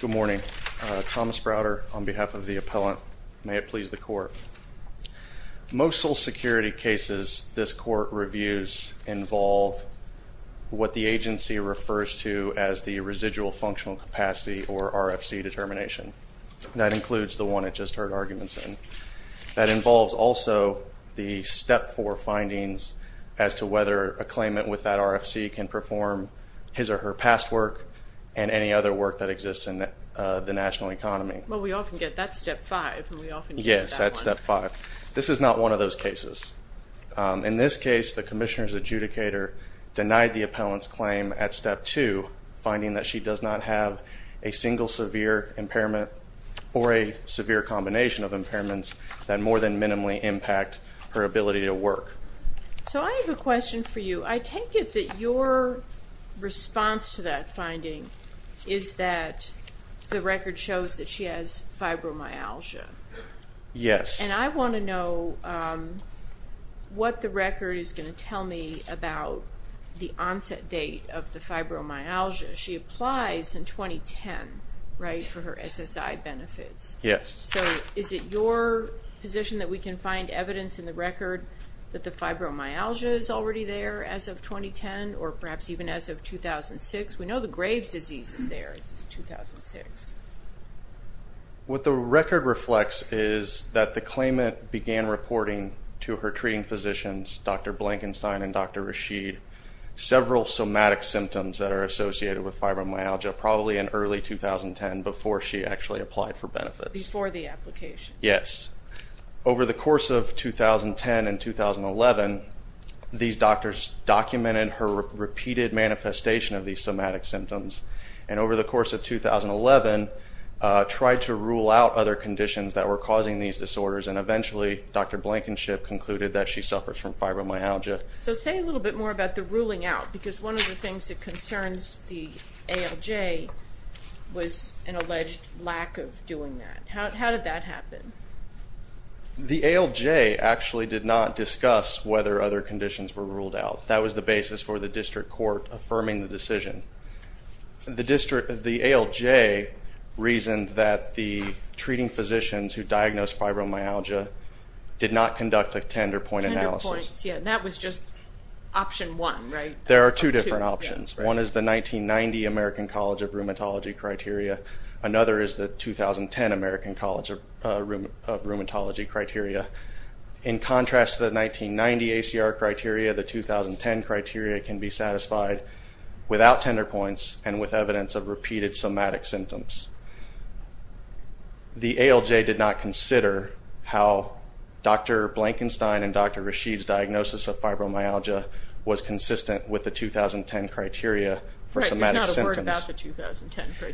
Good morning. Thomas Browder on behalf of the appellant. May it please the court. Most sole security cases this court reviews involve what the agency refers to as the residual functional capacity or RFC determination. That includes the one it just heard arguments in. That involves also the step four findings as to whether a claimant with that RFC can perform his or her past work and any other work that exists in the national economy. Well we often get that step five. Yes that's step five. This is not one of those cases. In this case the commissioner's adjudicator denied the appellant's claim at step two finding that she does not have a single severe impairment or a severe combination of impairments that more than minimally impact her ability to work. So I have a question. Is that the record shows that she has fibromyalgia? Yes. And I want to know what the record is going to tell me about the onset date of the fibromyalgia. She applies in 2010 right for her SSI benefits. Yes. So is it your position that we can find evidence in the record that the fibromyalgia is already there as of 2006? What the record reflects is that the claimant began reporting to her treating physicians Dr. Blankenstein and Dr. Rashid several somatic symptoms that are associated with fibromyalgia probably in early 2010 before she actually applied for benefits. Before the application? Yes. Over the course of 2010 and 2011 these doctors documented her repeated manifestation of these somatic symptoms and over the course of 2011 tried to rule out other conditions that were causing these disorders and eventually Dr. Blankenship concluded that she suffers from fibromyalgia. So say a little bit more about the ruling out because one of the things that concerns the ALJ was an alleged lack of doing that. How did that happen? The ALJ actually did not discuss whether other conditions were ruled out. That was the basis for the district court affirming the decision. The district, the ALJ, reasoned that the treating physicians who diagnosed fibromyalgia did not conduct a tender point analysis. That was just option one, right? There are two different options. One is the 1990 American College of Rheumatology criteria. Another is the 2010 American College of Rheumatology criteria. In contrast the 1990 ACR criteria, the 2010 criteria can be satisfied without tender points and with evidence of repeated somatic symptoms. The ALJ did not consider how Dr. Blankenstein and Dr. Rashid's diagnosis of fibromyalgia was consistent with the 2010 criteria for somatic symptoms.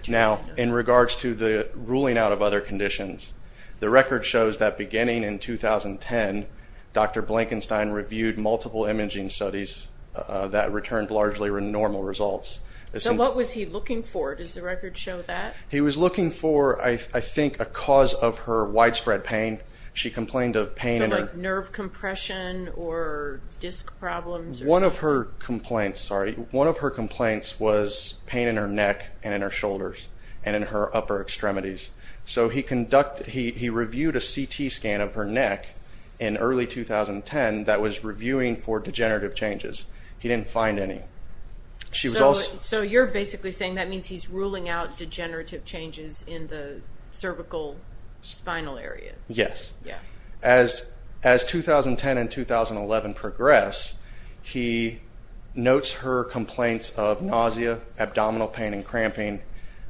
Now in regards to the ruling out of other conditions, the record shows that beginning in 2010 Dr. Blankenstein reviewed multiple imaging studies that returned largely normal results. So what was he looking for? Does the record show that? He was looking for, I think, a cause of her widespread pain. She complained of pain. So like nerve compression or disc problems? One of her complaints, sorry, one of her complaints was pain in her neck and in her shoulders and in her upper extremities. So he conducted, he reviewed a CT scan of her neck in early 2010 that was reviewing for degenerative changes. He didn't find any. So you're basically saying that means he's ruling out degenerative changes in the cervical spinal area? Yes. As 2010 and 2011 progress, he notes her complaints of nausea, abdominal pain and cramping,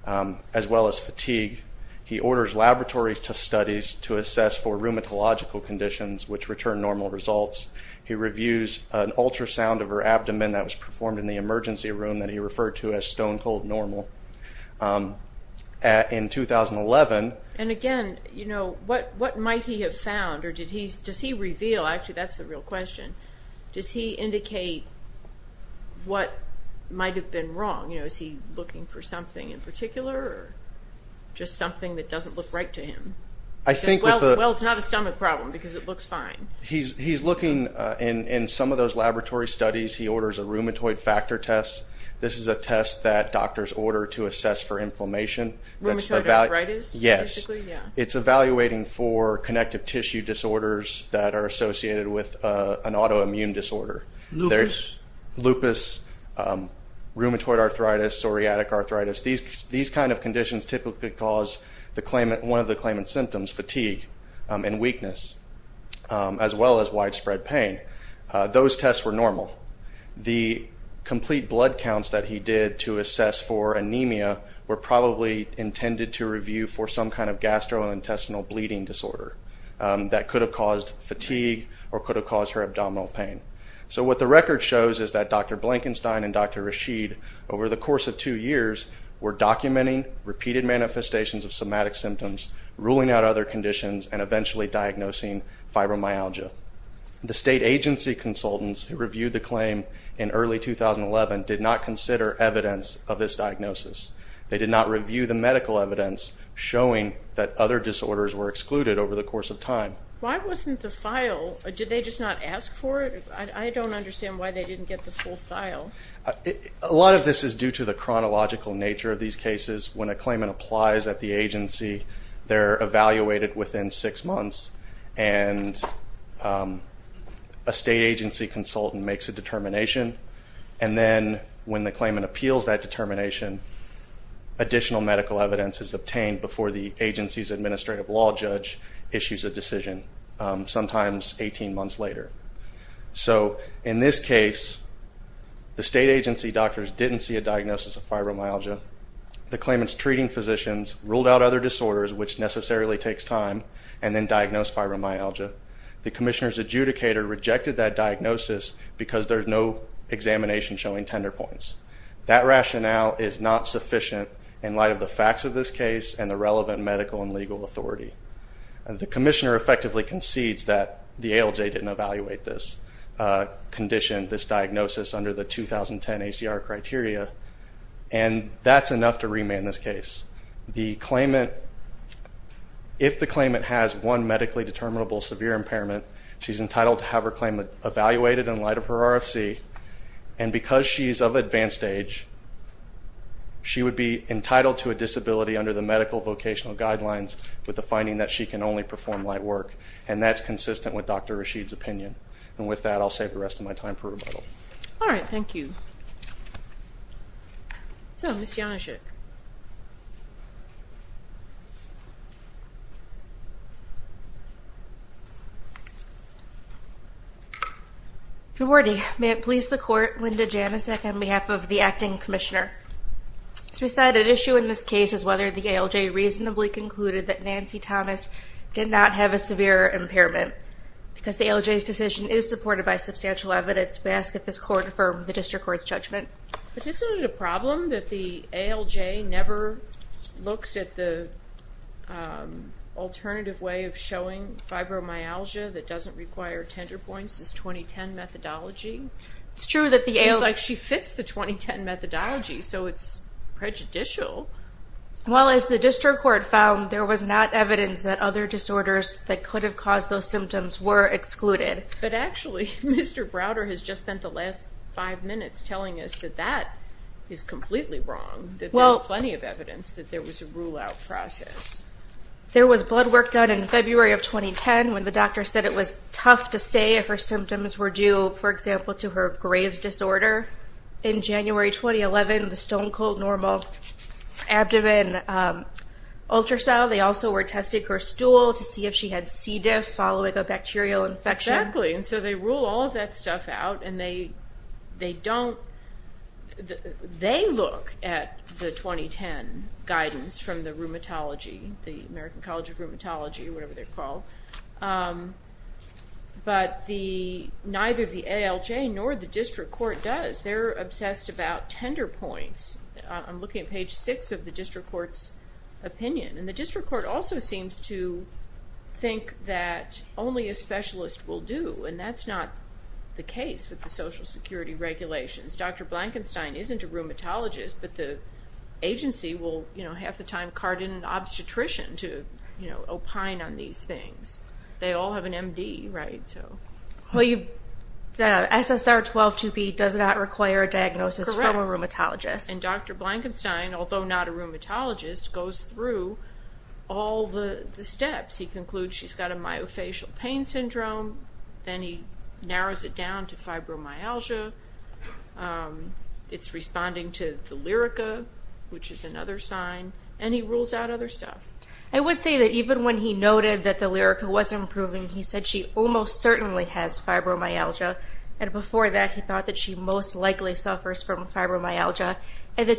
as conditions which returned normal results. He reviews an ultrasound of her abdomen that was performed in the emergency room that he referred to as stone-cold normal in 2011. And again, you know, what might he have found or did he, does he reveal, actually that's the real question, does he indicate what might have been wrong? You know, is he looking for something in particular or just something that doesn't look right to him? Well, it's not a stomach problem because it looks fine. He's looking in some of those laboratory studies. He orders a rheumatoid factor test. This is a test that doctors order to assess for inflammation. Rheumatoid arthritis? Yes. It's evaluating for connective tissue disorders that are associated with an autoimmune disorder. Lupus? Lupus, rheumatoid arthritis, psoriatic arthritis. These kind of conditions typically cause the claimant, one of the claimant's symptoms, fatigue and weakness, as well as widespread pain. Those tests were normal. The complete blood counts that he did to assess for anemia were probably intended to review for some kind of gastrointestinal bleeding disorder that could have caused fatigue or could have caused her abdominal pain. So what the record shows is that Dr. Blankenstein and Dr. Rashid, over the course of two years, were experiencing repeated manifestations of somatic symptoms, ruling out other conditions, and eventually diagnosing fibromyalgia. The state agency consultants who reviewed the claim in early 2011 did not consider evidence of this diagnosis. They did not review the medical evidence showing that other disorders were excluded over the course of time. Why wasn't the file, did they just not ask for it? I don't understand why they didn't get the full file. A lot of this is due to the fact that it applies at the agency, they're evaluated within six months, and a state agency consultant makes a determination, and then when the claimant appeals that determination, additional medical evidence is obtained before the agency's administrative law judge issues a decision, sometimes 18 months later. So in this case, the state agency doctors didn't see a diagnosis of fibromyalgia. The claimants treating physicians ruled out other disorders, which necessarily takes time, and then diagnosed fibromyalgia. The commissioner's adjudicator rejected that diagnosis because there's no examination showing tender points. That rationale is not sufficient in light of the facts of this case and the relevant medical and legal authority. The commissioner effectively concedes that the ALJ didn't evaluate this condition, this diagnosis, under the medical vocational guidelines, and that's enough to remand this case. If the claimant has one medically determinable severe impairment, she's entitled to have her claimant evaluated in light of her RFC, and because she's of advanced age, she would be entitled to a disability under the medical vocational guidelines with the finding that she can only perform light work, and that's consistent with Dr. Rashid's opinion. And with that, I'll save the rest of my time for rebuttal. All right, thank you. So, Ms. Januszczyk. Good morning. May it please the court, Linda Januszczyk on behalf of the Acting Commissioner. This presided issue in this case is whether the ALJ reasonably concluded that Nancy Thomas did not have a severe impairment. Because the ALJ's supported by substantial evidence, may I ask that this court affirm the District Court's judgment. But isn't it a problem that the ALJ never looks at the alternative way of showing fibromyalgia that doesn't require tender points, this 2010 methodology? It's true that the ALJ... Seems like she fits the 2010 methodology, so it's prejudicial. Well, as the District Court found, there was not evidence that other disorders that could have caused those symptoms were excluded. But actually, Mr. Browder has just spent the last five minutes telling us that that is completely wrong, that there's plenty of evidence that there was a rule-out process. There was blood work done in February of 2010 when the doctor said it was tough to say if her symptoms were due, for example, to her Graves disorder. In January 2011, the stone-cold normal abdomen ultrasound, they also were testing her stool to see if she had C. diff following a bacterial infection. Exactly, and so they rule all of that stuff out, and they don't... They look at the 2010 guidance from the Rheumatology, the American College of Rheumatology, whatever they're called, but neither the ALJ nor the District Court does. They're obsessed about tender points. I'm looking at page 6 of the District Court's opinion, and the District Court also seems to think that only a specialist will do, and that's not the case with the Social Security regulations. Dr. Blankenstein isn't a rheumatologist, but the agency will, you know, half the time cart in an obstetrician to, you know, opine on these things. They all have an MD, right? So... Well, the SSR-12-2B does not require a diagnosis from a rheumatologist. And Dr. Blankenstein, although not a rheumatologist, goes through all the steps. He concludes she's got a myofascial pain syndrome, then he narrows it down to fibromyalgia. It's responding to the Lyrica, which is another sign, and he rules out other stuff. I would say that even when he noted that the Lyrica wasn't improving, he said she almost certainly has fibromyalgia, and before that he thought that she most likely suffers from fibromyalgia. In the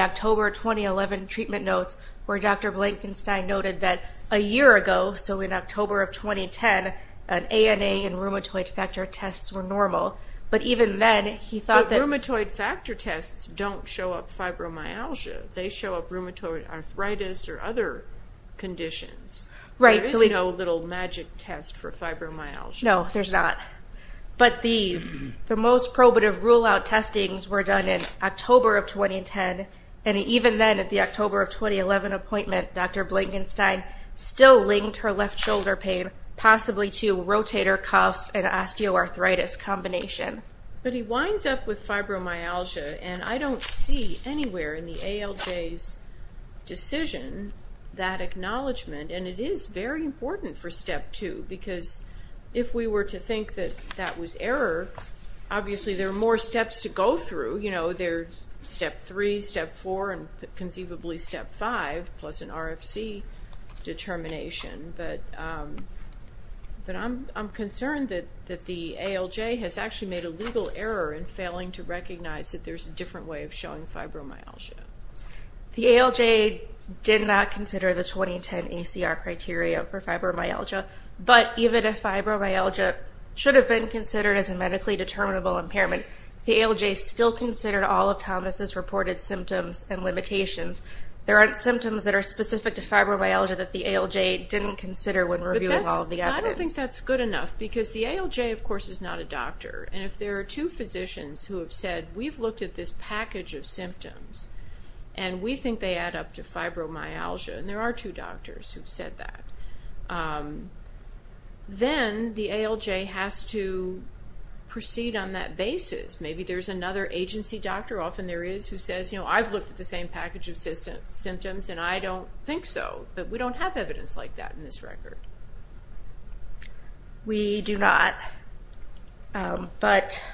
October 2011 treatment notes, where Dr. Blankenstein noted that a year ago, so in October of 2010, an ANA and rheumatoid factor tests were normal. But even then, he thought that... But rheumatoid factor tests don't show up fibromyalgia. They show up rheumatoid arthritis or other conditions. There is no little magic test for fibromyalgia. No, there's not. But the most probative rule-out testings were done in October of 2010, and even then, at the October of 2011 appointment, Dr. Blankenstein still linked her left shoulder pain possibly to rotator cuff and osteoarthritis combination. But he winds up with fibromyalgia, and I don't see anywhere in the ALJ's decision that acknowledgement, and it is very important for step two, because if we were to think that that was error, obviously there are more steps to go through. You know, there's step three, step four, and conceivably step five, plus an RFC determination, but I'm concerned that the ALJ has actually made a legal error in failing to recognize that there's a different way of showing fibromyalgia. The ALJ did not consider the 2010 ACR criteria for fibromyalgia, but even if fibromyalgia should have been considered as a medically determinable impairment, the ALJ still considered all of Thomas's reported symptoms and limitations. There aren't symptoms that are specific to fibromyalgia that the ALJ didn't consider when reviewing all of the evidence. I don't think that's good enough, because the ALJ, of course, is not a doctor, and if there are two physicians who have said, we've looked at this package of symptoms, and we think they add up to fibromyalgia, and there are two doctors who've said that, then the ALJ has to proceed on that basis. Maybe there's another agency doctor, often there is, who says, you know, I've looked at the same package of symptoms, and I don't think so, but we don't have evidence like that in this record. We do not, but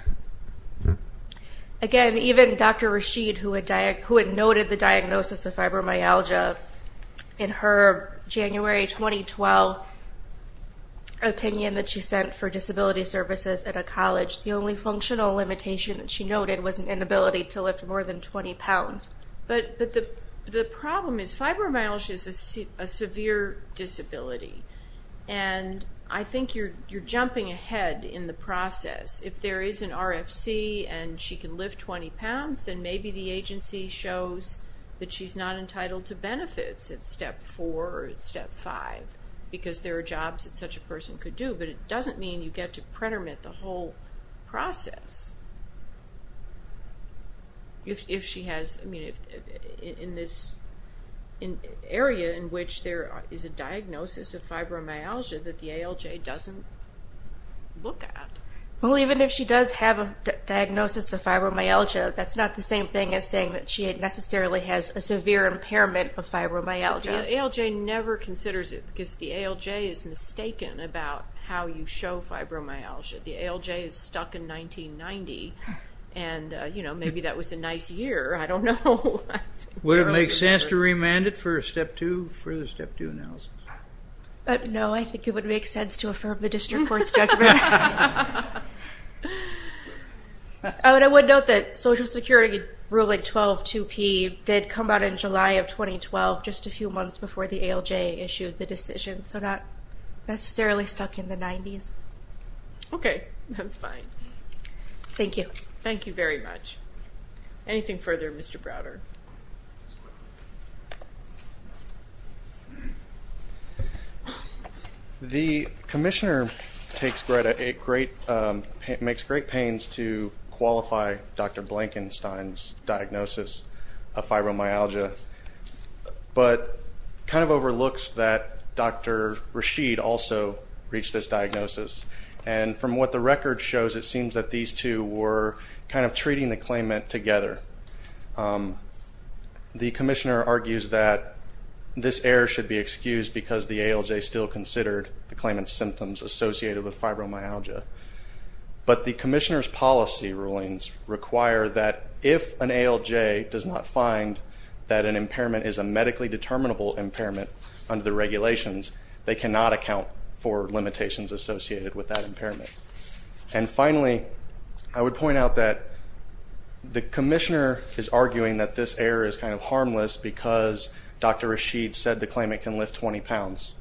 again, even Dr. Fibromyalgia, in her January 2012 opinion that she sent for disability services at a college, the only functional limitation that she noted was an inability to lift more than 20 pounds. But the problem is fibromyalgia is a severe disability, and I think you're jumping ahead in the process. If there is an RFC and she can lift 20 pounds, then maybe the agency shows that she's not entitled to benefits at Step 4 or Step 5, because there are jobs that such a person could do, but it doesn't mean you get to pretermit the whole process. If she has, I mean, in this area in which there is a diagnosis of fibromyalgia that the ALJ doesn't look at. Well, even if she does have a diagnosis of fibromyalgia, that's not the same thing as saying that she necessarily has a severe impairment of fibromyalgia. The ALJ never considers it, because the ALJ is mistaken about how you show fibromyalgia. The ALJ is stuck in 1990, and maybe that was a nice year. I don't know. Would it make sense to remand it for Step 2, for the Step 2 analysis? No, I think it would make sense to affirm the district court's judgment. I would note that Social Security Ruling 12-2P did come out in July of 2012, just a few months before the ALJ issued the decision, so not necessarily stuck in the 90s. Okay, that's fine. Thank you. Thank you very much. Anything further, Mr. Browder? The commissioner makes great pains to qualify Dr. Blankenstein's diagnosis of fibromyalgia, but kind of overlooks that Dr. Rashid also reached this diagnosis, and from what the commissioner argues that this error should be excused because the ALJ still considered the claimant's symptoms associated with fibromyalgia. But the commissioner's policy rulings require that if an ALJ does not find that an impairment is a medically determinable impairment under the regulations, they cannot account for limitations associated with that impairment. And finally, I would point out that the commissioner is arguing that this error is kind of harmless because Dr. Rashid said the claimant can lift 20 pounds.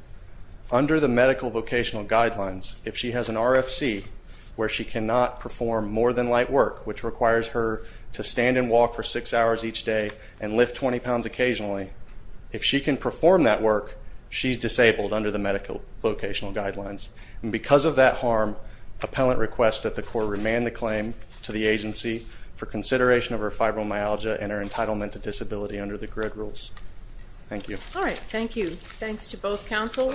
Under the medical vocational guidelines, if she has an RFC where she cannot perform more than light work, which requires her to stand and walk for six hours each day and lift 20 pounds occasionally, if she can perform that work, she's disabled under the medical vocational guidelines. And because of that harm, appellant requests that the court remand the claim to the agency for consideration of her fibromyalgia and her entitlement to disability under the grid rules. Thank you. All right. Thank you. Thanks to both counsel.